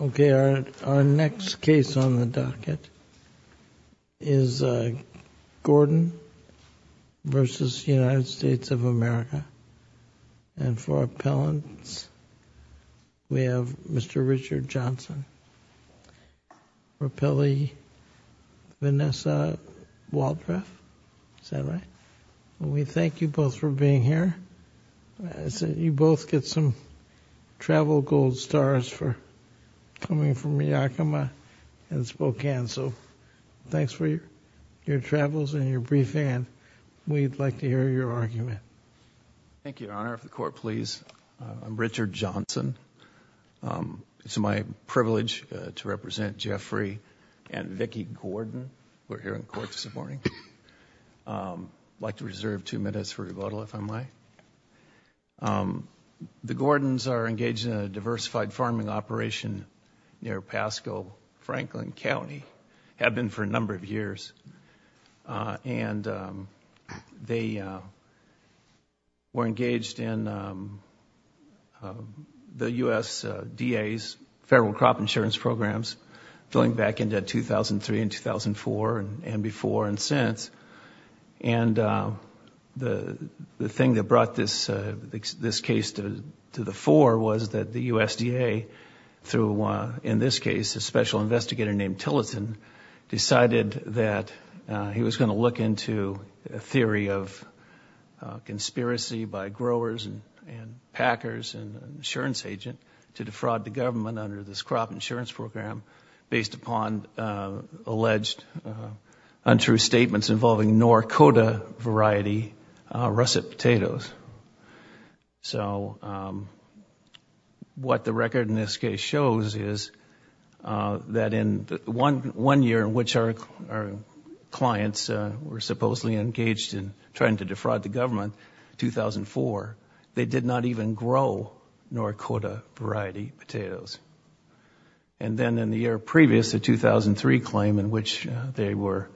Okay, our next case on the docket is Gordon v. United States of America and for appellants, we have Mr. Richard Johnson, Rapeli Vanessa Waldreth. Is that right? We thank you both for being here. You both get some travel goals stars for coming from Yakima and Spokane. So thanks for your travels and your briefing and we'd like to hear your argument. Thank you, Your Honor. If the court please. I'm Richard Johnson. It's my privilege to represent Jeffrey and Vicki Gordon. We're here in court this morning. I'd like to reserve two minutes for questions. The U.S. D.A.'s federal crop insurance programs going back into 2003 and 2004 and before and since and the thing that brought this this case to the fore was that the USDA through in this case a special investigator named Tillotson decided that he was going to look into a theory of conspiracy by growers and packers and insurance agent to defraud the government under this crop insurance program based upon alleged untrue statements involving Norcota variety russet potatoes. So what the record in this case shows is that in one year in which our clients were supposedly engaged in trying to defraud the government, 2004, they did not even grow Norcota variety potatoes. And then in the year previous, the 2003 claim in which they were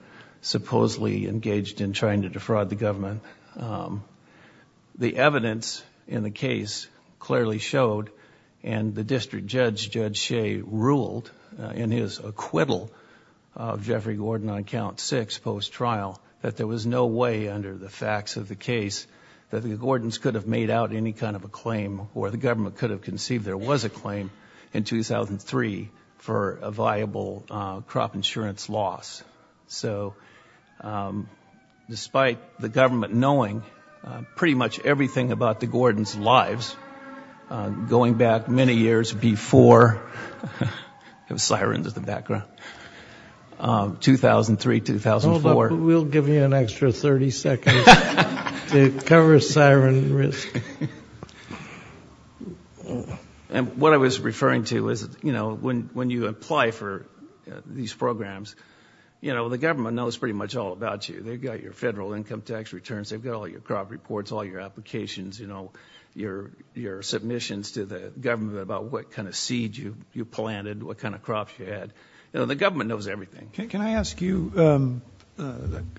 supposedly engaged in trying to defraud the government, the evidence in the case clearly showed and the district judge, Judge Shea, ruled in his acquittal of Jeffrey Gordon on count six post-trial that there was no way under the facts of the case that the Gordons could have made out any kind of a claim or the government could have conceived there was a claim in 2003 for a viable crop insurance loss. So despite the government knowing pretty much everything about the Gordons' lives, going back many years before, there were sirens in the background, 2003, 2004. We'll give you an extra 30 seconds to cover siren risk. And what I was referring to is, you know, when when you apply for these programs, you know, the government knows pretty much all about you. They've got your federal income tax returns, they've got all your crop reports, all your applications, you know, your submissions to the government about what kind of seed you planted, what kind of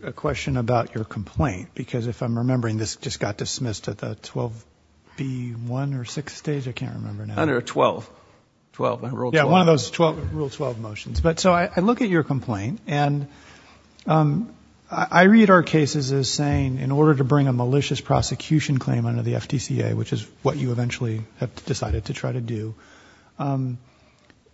a question about your complaint, because if I'm remembering, this just got dismissed at the 12B1 or 6th stage, I can't remember now. Under 12, 12. Yeah, one of those rule 12 motions. But so I look at your complaint and I read our cases as saying in order to bring a malicious prosecution claim under the FTCA, which is what you eventually have decided to try to do,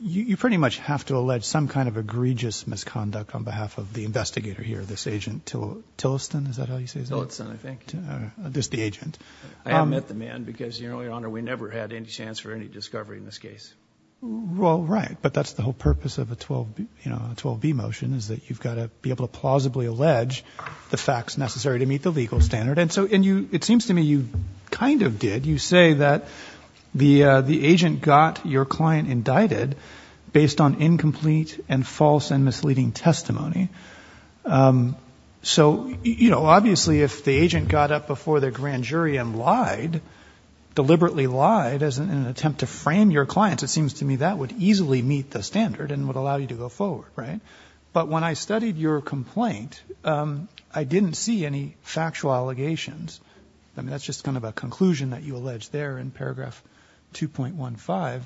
you pretty much have to allege some kind of egregious misconduct on behalf of the investigator here. This agent Tillotson, is that how you say his name? Tillotson, I think. Just the agent. I haven't met the man because, Your Honor, we never had any chance for any discovery in this case. Well, right, but that's the whole purpose of a 12, you know, a 12B motion is that you've got to be able to plausibly allege the facts necessary to meet the legal standard. And so, and you, it seems to me you kind of did, you say that the the agent got your misleading testimony. So, you know, obviously if the agent got up before the grand jury and lied, deliberately lied as an attempt to frame your clients, it seems to me that would easily meet the standard and would allow you to go forward, right? But when I studied your complaint, I didn't see any factual allegations. I mean, that's just kind of a conclusion that you allege there in paragraph 2.15.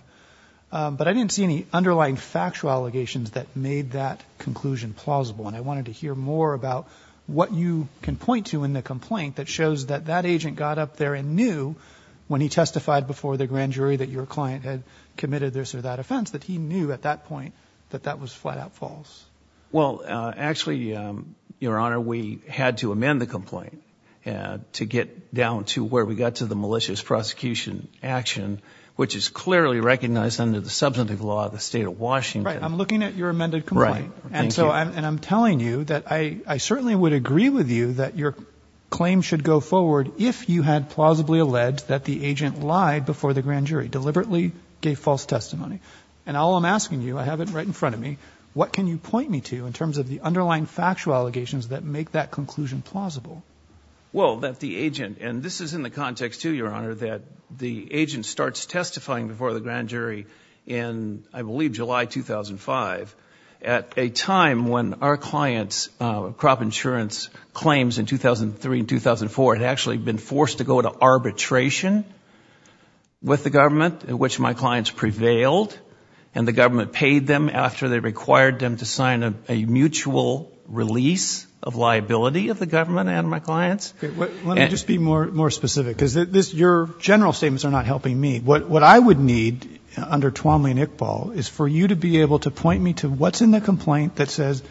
But I didn't see any underlying factual allegations that made that conclusion plausible. And I wanted to hear more about what you can point to in the complaint that shows that that agent got up there and knew when he testified before the grand jury that your client had committed this or that offense, that he knew at that point that that was flat-out false. Well, actually, Your Honor, we had to amend the complaint to get down to where we got to the malicious prosecution action, which is clearly recognized under the substantive law of the state of Washington. Right, I'm looking at your amended complaint. And so I'm telling you that I certainly would agree with you that your claim should go forward if you had plausibly alleged that the agent lied before the grand jury, deliberately gave false testimony. And all I'm asking you, I have it right in front of me, what can you point me to in terms of the underlying factual allegations that make that conclusion plausible? Well, that the agent, and this is in the context too, Your Honor, that the agent starts testifying before the grand jury in, I believe, July 2005 at a time when our client's crop insurance claims in 2003 and 2004 had actually been forced to go to arbitration with the government, in which my clients prevailed, and the government paid them after they required them to sign a mutual release of liability of the government and my clients. Let me just be more specific, because your general statements are not helping me. What I would need under Twombly and Iqbal is for you to be able to point me to what's in the complaint that says,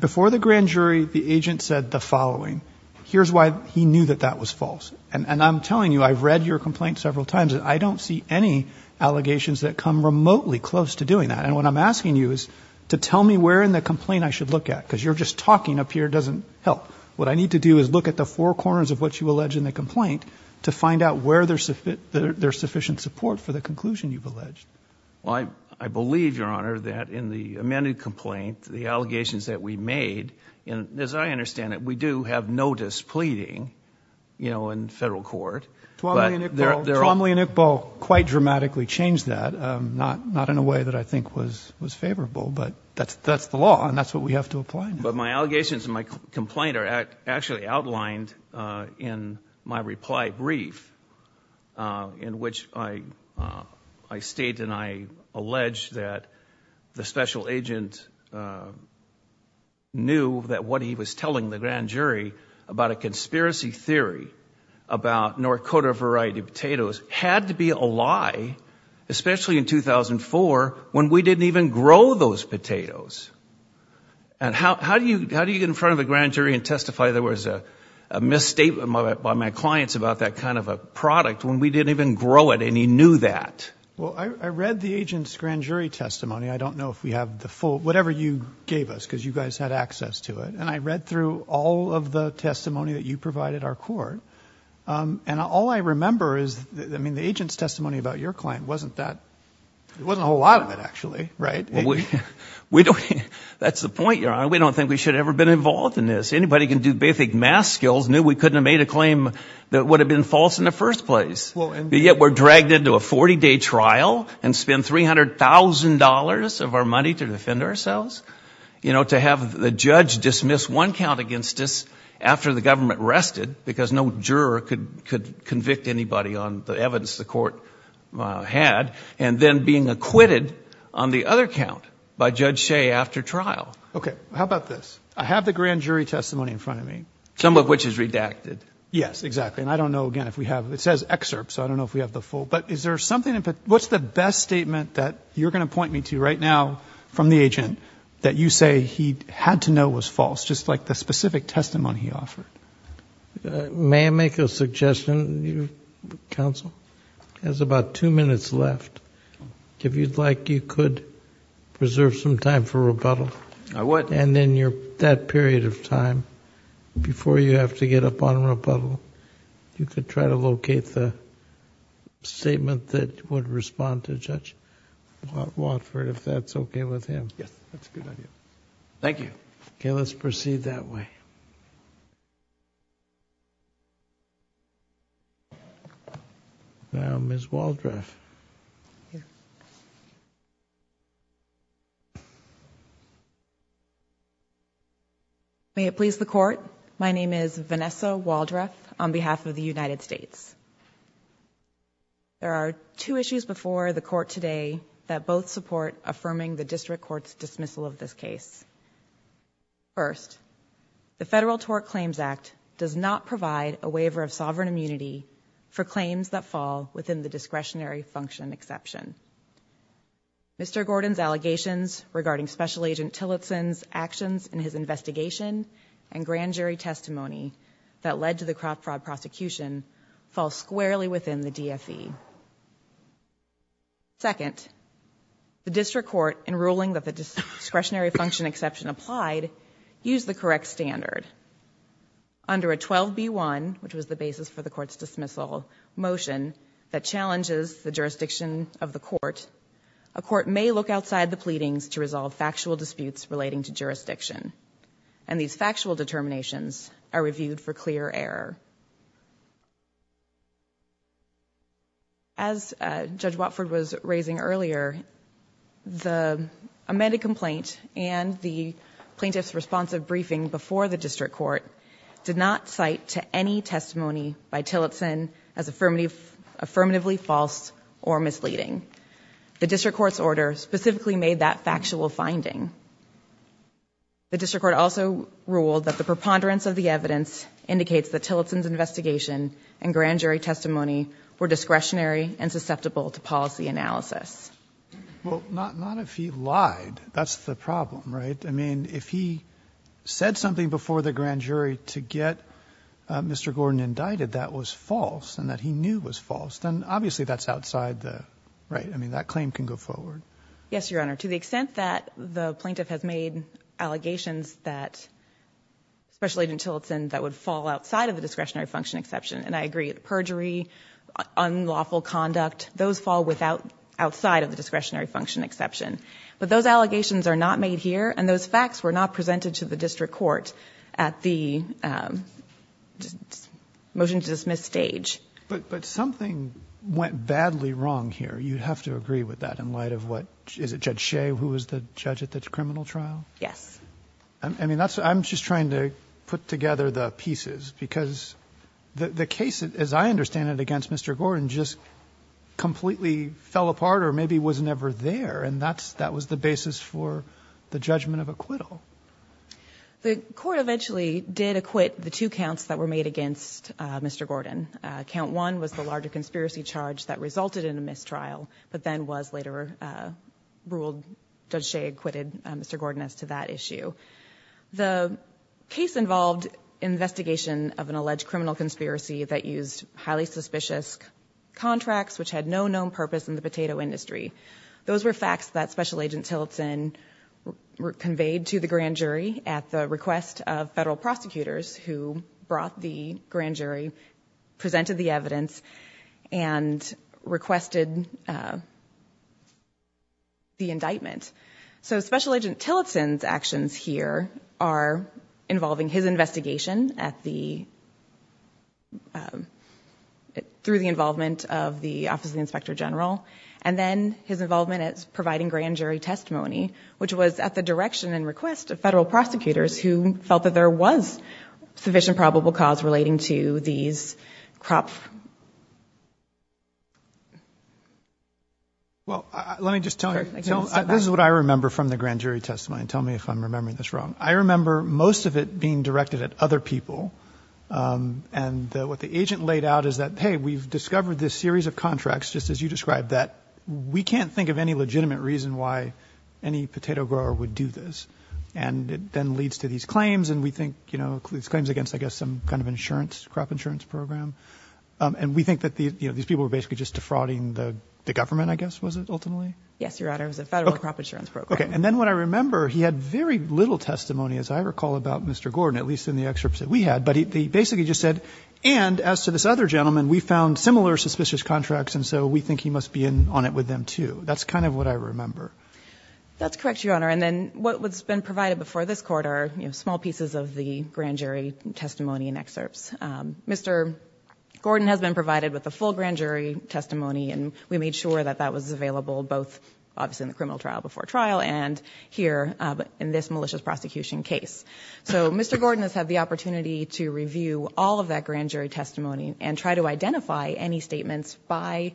before the grand jury, the agent said the following. Here's why he knew that that was false. And I'm telling you, I've read your complaint several times, and I don't see any allegations that come remotely close to doing that. And what I'm asking you is to tell me where in the complaint I should look at, because you're just talking up here, it doesn't help. What I need to do is look at the four corners of what you said. Is there sufficient support for the conclusion you've alleged? Well, I believe, Your Honor, that in the amended complaint, the allegations that we made, and as I understand it, we do have notice pleading, you know, in federal court. Twombly and Iqbal quite dramatically changed that, not in a way that I think was favorable, but that's the law, and that's what we have to apply. But my allegations in my complaint are actually outlined in my reply brief, in which I state and I allege that the special agent knew that what he was telling the grand jury about a conspiracy theory about Norcota variety potatoes had to be a lie, especially in 2004, when we didn't even grow those potatoes. And how do you get in front of the grand jury and about that kind of a product when we didn't even grow it and he knew that? Well, I read the agent's grand jury testimony. I don't know if we have the full, whatever you gave us, because you guys had access to it, and I read through all of the testimony that you provided our court, and all I remember is, I mean, the agent's testimony about your claim wasn't that, it wasn't a whole lot of it actually, right? Well, we don't, that's the point, Your Honor. We don't think we should have ever been involved in this. Anybody can do basic math skills, knew we would have been false in the first place, yet we're dragged into a 40-day trial and spend $300,000 of our money to defend ourselves, you know, to have the judge dismiss one count against us after the government rested, because no juror could convict anybody on the evidence the court had, and then being acquitted on the other count by Judge Shea after trial. Okay, how about this? I have the grand jury testimony in front of me. Some of which is redacted. Yes, exactly, and I don't know, again, if we have, it says excerpt, so I don't know if we have the full, but is there something, what's the best statement that you're going to point me to right now from the agent that you say he had to know was false, just like the specific testimony he offered? May I make a suggestion, counsel? There's about two minutes left. If you'd like, you could preserve some time for rebuttal. I would. And then you're, that period of time before you have to get up on rebuttal, you could try to locate the statement that would respond to Judge Watford, if that's okay with him. Yes, that's a good idea. Thank you. Okay, let's proceed that way. Now, Ms. Waldreth. May it please the court, my name is Vanessa Waldreth on behalf of the United States. There are two issues before the court today that both support affirming the district court's dismissal of this case. First, the Federal Tort for claims that fall within the discretionary function exception. Mr. Gordon's allegations regarding Special Agent Tillotson's actions in his investigation and grand jury testimony that led to the crop fraud prosecution fall squarely within the DFE. Second, the district court in ruling that the discretionary function exception applied used the correct standard. Under a 12b1, which was the basis for the court's dismissal motion, that challenges the jurisdiction of the court, a court may look outside the pleadings to resolve factual disputes relating to jurisdiction. And these factual determinations are reviewed for clear error. As Judge Watford was raising earlier, the amended complaint and the plaintiff's responsive briefing before the district court did not cite to any testimony by Tillotson as affirmatively false or misleading. The district court's order specifically made that factual finding. The district court also ruled that the preponderance of the evidence indicates that Tillotson's investigation and grand jury testimony were discretionary and susceptible to policy analysis. Well, not if he lied. That's the problem, right? I mean, if he said something before the grand jury to get Mr. Gordon indicted that was false and that he knew was false, then obviously that's outside the right. I mean, that claim can go forward. Yes, Your Honor. To the extent that the plaintiff has made allegations that Special Agent Tillotson that would fall outside of the discretionary function exception, and I agree, perjury, unlawful conduct, those fall without outside of the discretionary function exception. But those allegations are not made here, and those facts were not presented to the district court at the motion to dismiss stage. But something went badly wrong here. You'd have to agree with that in light of what – is it Judge Shea who was the judge at the criminal trial? Yes. I mean, that's – I'm just trying to put together the pieces, because the case, as I understand it, against Mr. Gordon just completely fell apart or maybe was never there, and that's – that was the basis for the judgment of acquittal. The court eventually did acquit the two counts that were made against Mr. Gordon. Count one was the larger conspiracy charge that resulted in a mistrial, but then was later ruled – Judge Shea acquitted Mr. Gordon as to that issue. The case involved investigation of an alleged criminal conspiracy that used highly suspicious contracts which had no known purpose in the potato industry. Those were facts that Special Agent Tillotson conveyed to the grand jury at the request of federal prosecutors who brought the grand jury, presented the evidence, and requested the indictment. So Special Agent Tillotson's actions here are involving his investigation at the – through the involvement of the Office of the Inspector General, and then his involvement at providing grand jury testimony, which was at the direction and request of federal prosecutors who felt that there was sufficient probable cause relating to these crop – Well, let me just tell you. This is what I remember from the grand jury testimony. Tell me if I'm remembering this wrong. I remember most of it being directed at other people. And what the agent laid out is that, hey, we've discovered this series of contracts, just as you described, that we can't think of any legitimate reason why any potato grower would do this. And it then leads to these claims, and we think, you know, these claims against, I guess, some kind of insurance, crop insurance program. And we think that, you know, these people were basically just defrauding the government, I guess, was it, ultimately? Yes, Your Honor. It was a federal crop insurance program. Okay. And then what I remember, he had very little testimony, as I recall, about Mr. Gordon, at least in the excerpts that we had. But he basically just said, and as to this other gentleman, we found similar suspicious contracts, and so we think he must be in on it with them, too. That's kind of what I remember. That's correct, Your Honor. And then what's been provided before this Court are, you know, small pieces of the grand jury testimony and excerpts. Mr. Gordon has been provided with the full grand jury testimony, and we made sure that that was available both, obviously, in the criminal trial before trial and here in this malicious prosecution case. So Mr. Gordon has had the opportunity to review all of that grand jury testimony and try to identify any statements by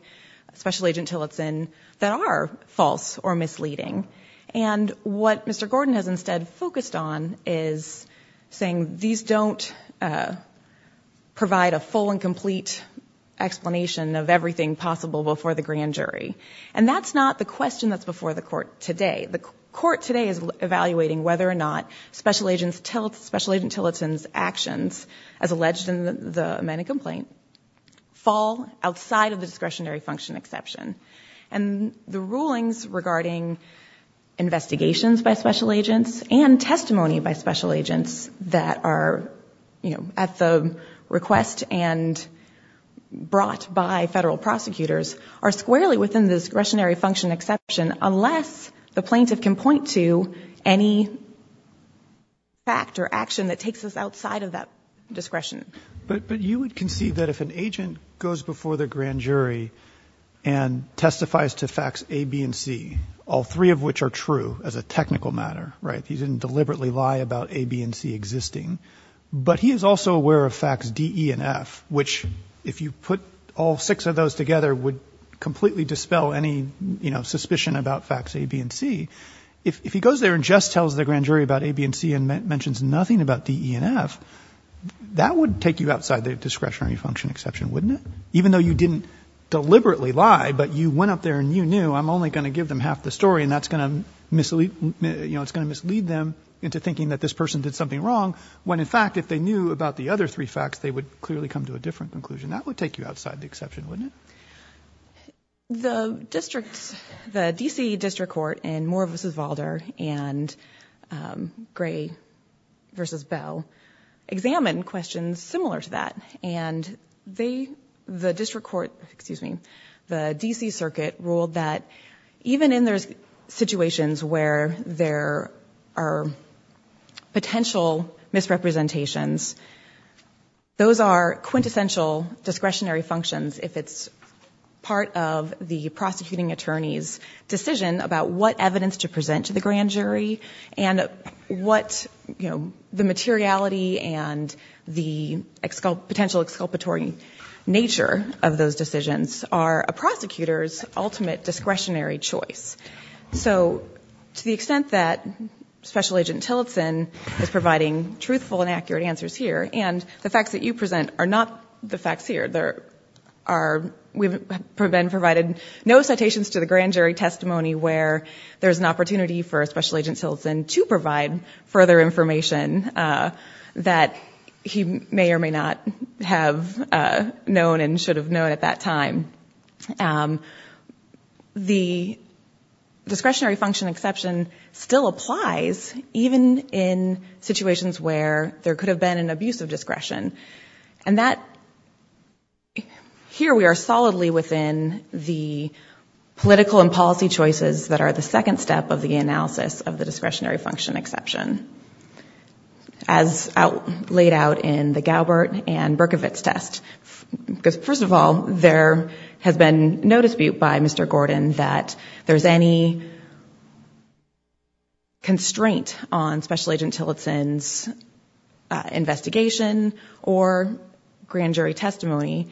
Special Agent Tillotson that are false or misleading. And what Mr. Gordon has instead focused on is saying, these don't provide a full and complete explanation of everything possible before the grand jury. And that's not the question that's before the Court today. The Court today is evaluating whether or not Special Agent Tillotson's actions, as alleged in the amended complaint, fall outside of the discretionary function exception. And the rulings regarding investigations by Special Agents and testimony by Special Agents that are, you know, at the request and brought by Federal prosecutors are squarely within the discretionary function exception, unless the plaintiff can point to any fact or action that takes us outside of that discretion. But you would concede that if an agent goes before the grand jury and testifies to facts A, B, and C, all three of which are true as a technical matter, right, he didn't deliberately lie about A, B, and C existing, but he is also aware of facts D, E, and F, which, if you put all six of those together, would completely dispel any, you know, suspicion about facts A, B, and C. If he goes there and just tells the grand jury about A, B, and C and mentions nothing about D, E, and F, that would take you outside the discretionary function exception, wouldn't it? Even though you didn't deliberately lie, but you went up there and you knew, I'm only going to give them half the story, and that's going to mislead them into thinking that this person did something wrong, when, in fact, if they knew about the other three facts, they would clearly come to a different conclusion. That would take you outside the exception, wouldn't it? The district, the D.C. District Court in Moore v. Vaulder and Gray v. Bell examined questions similar to that, and they, the District Court, excuse me, the D.C. Circuit ruled that even in those situations where there are potential misrepresentations, those are quintessential discretionary functions if it's part of the prosecuting attorney's decision about what evidence to present to the grand jury and what, you know, the materiality and the potential exculpatory nature of those decisions are a prosecutor's ultimate discretionary choice. So to the extent that Special Agent Tillotson is providing truthful and accurate answers here, and the facts that you present are not the facts here, we've been provided no citations to the grand jury testimony where there's an opportunity for Special Agent Tillotson to provide further information that he may or may not have known and should have known at that time, the discretionary function exception still applies even in situations where there could have been an abuse of discretion. And that, here we are solidly within the political and policy choices that are the second step of the analysis of the discretionary function exception, as laid out in the Galbert and Berkovitz test. Because first of all, there has been no dispute by Mr. Gordon that there's any constraint on Special Agent Tillotson's investigation or grand jury testimony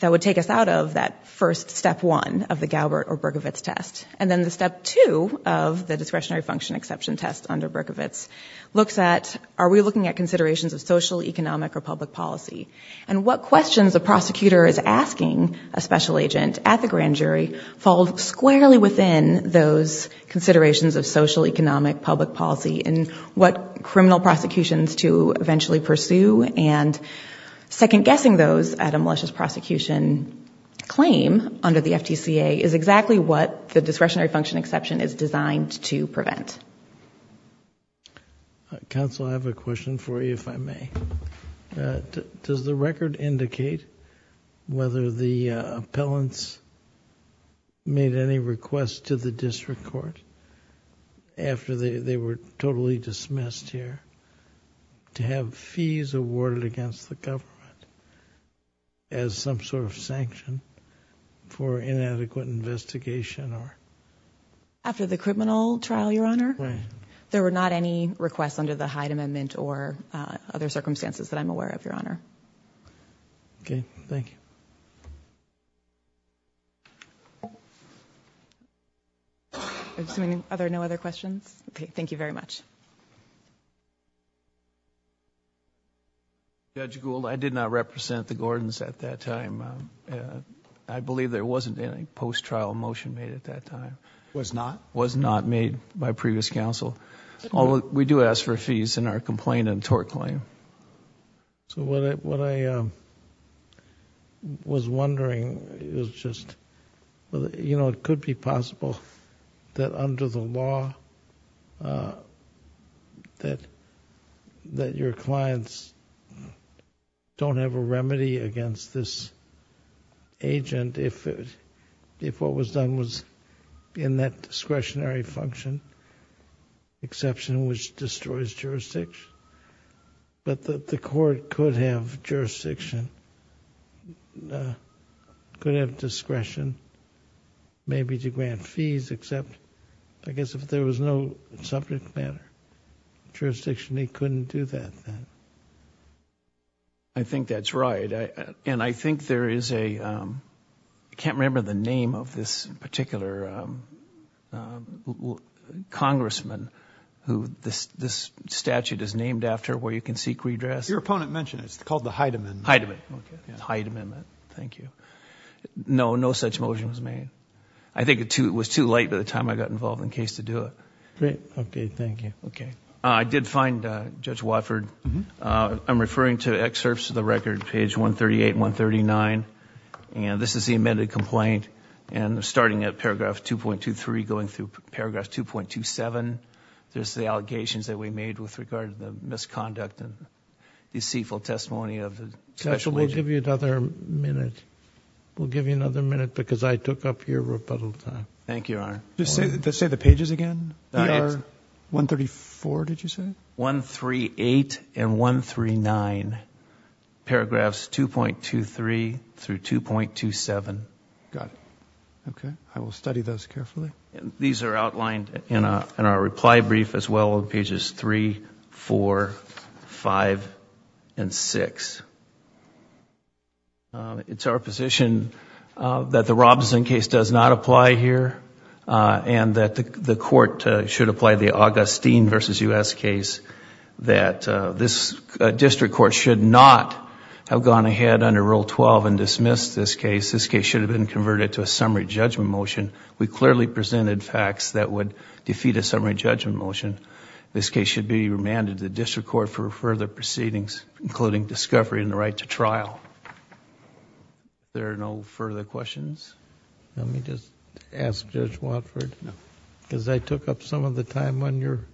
that would take us out of that first step one of the Galbert or Berkovitz test. And then the step two of the discretionary function exception test under Berkovitz looks at, are we looking at considerations of social, economic, or public policy, and what questions a prosecutor is asking a special agent at the grand jury fall squarely within those considerations of social, economic, public policy, and what criminal prosecutions to eventually pursue, and second-guessing those at a malicious prosecution claim under the FTCA is exactly what we're looking at. Counsel, I have a question for you, if I may. Does the record indicate whether the appellants made any requests to the district court after they were totally dismissed here to have fees awarded against the government as some sort of sanction for their actions? No, Your Honor. There were not any requests under the Hyde Amendment or other circumstances that I'm aware of, Your Honor. Okay. Thank you. Are there no other questions? Okay. Thank you very much. Judge Gould, I did not represent the Gordons at that time. I believe there wasn't any post-trial motion made at that time. Was not? Was not made by previous counsel. Although, we do ask for fees in our complaint and tort claim. So what I was wondering is just, you know, it could be possible that under the law that your clients don't have a remedy against this agent if what was done was in that discretionary function, exception which destroys jurisdiction. But the court could have jurisdiction, could have discretion, maybe to grant fees, except I guess if there was no subject matter jurisdiction, they couldn't do that then. I think that's right. And I think there is a, I can't remember the name of this case. I think it was too late by the time I got involved in the case to do it. Okay. Thank you. I did find, Judge Watford, I'm referring to excerpts of the record, page 138 and 139. And this is the amended complaint. And starting at paragraph 2.23, going through paragraph 2.27, there's the allegations that we made with regard to the misconduct and deceitful testimony of the special agent. Counsel, we'll give you another minute. We'll give you another minute because I took up your rebuttal time. Thank you, Your Honor. Just say the pages again. 134, did you say? 138 and 139, paragraphs 2.23 through 2.27. Got it. Okay. I will study those carefully. These are outlined in our reply brief as well on pages 3, 4, 5, and 6. It's our position that the Robinson case does not apply here and that the court should apply the Augustine v. U.S. case, that this district court should not have gone ahead under Rule 12 and dismissed this case. This case should have been converted to a summary judgment motion. We clearly presented facts that would defeat a summary judgment motion. This case should be remanded to the district court for further proceedings, including discovery and the right to trial. Are there no further questions? Let me just ask Judge Watford, because I took up some of the time on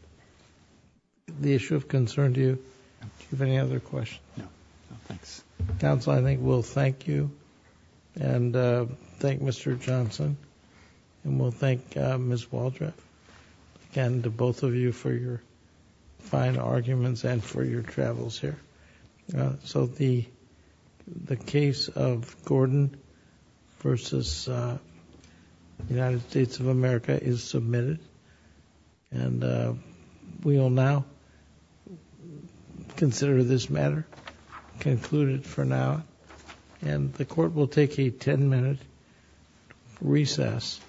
the issue of concern to you. Do you have any other questions? No. No, thanks. Counsel, I think we'll thank you and thank Mr. Johnson, and we'll thank Ms. Waldron, again, to both of you for your fine arguments and for your travels here. So the case of Gordon v. United States of America is submitted, and we will now consider this matter concluded for now, and the court will take a 10-minute recess.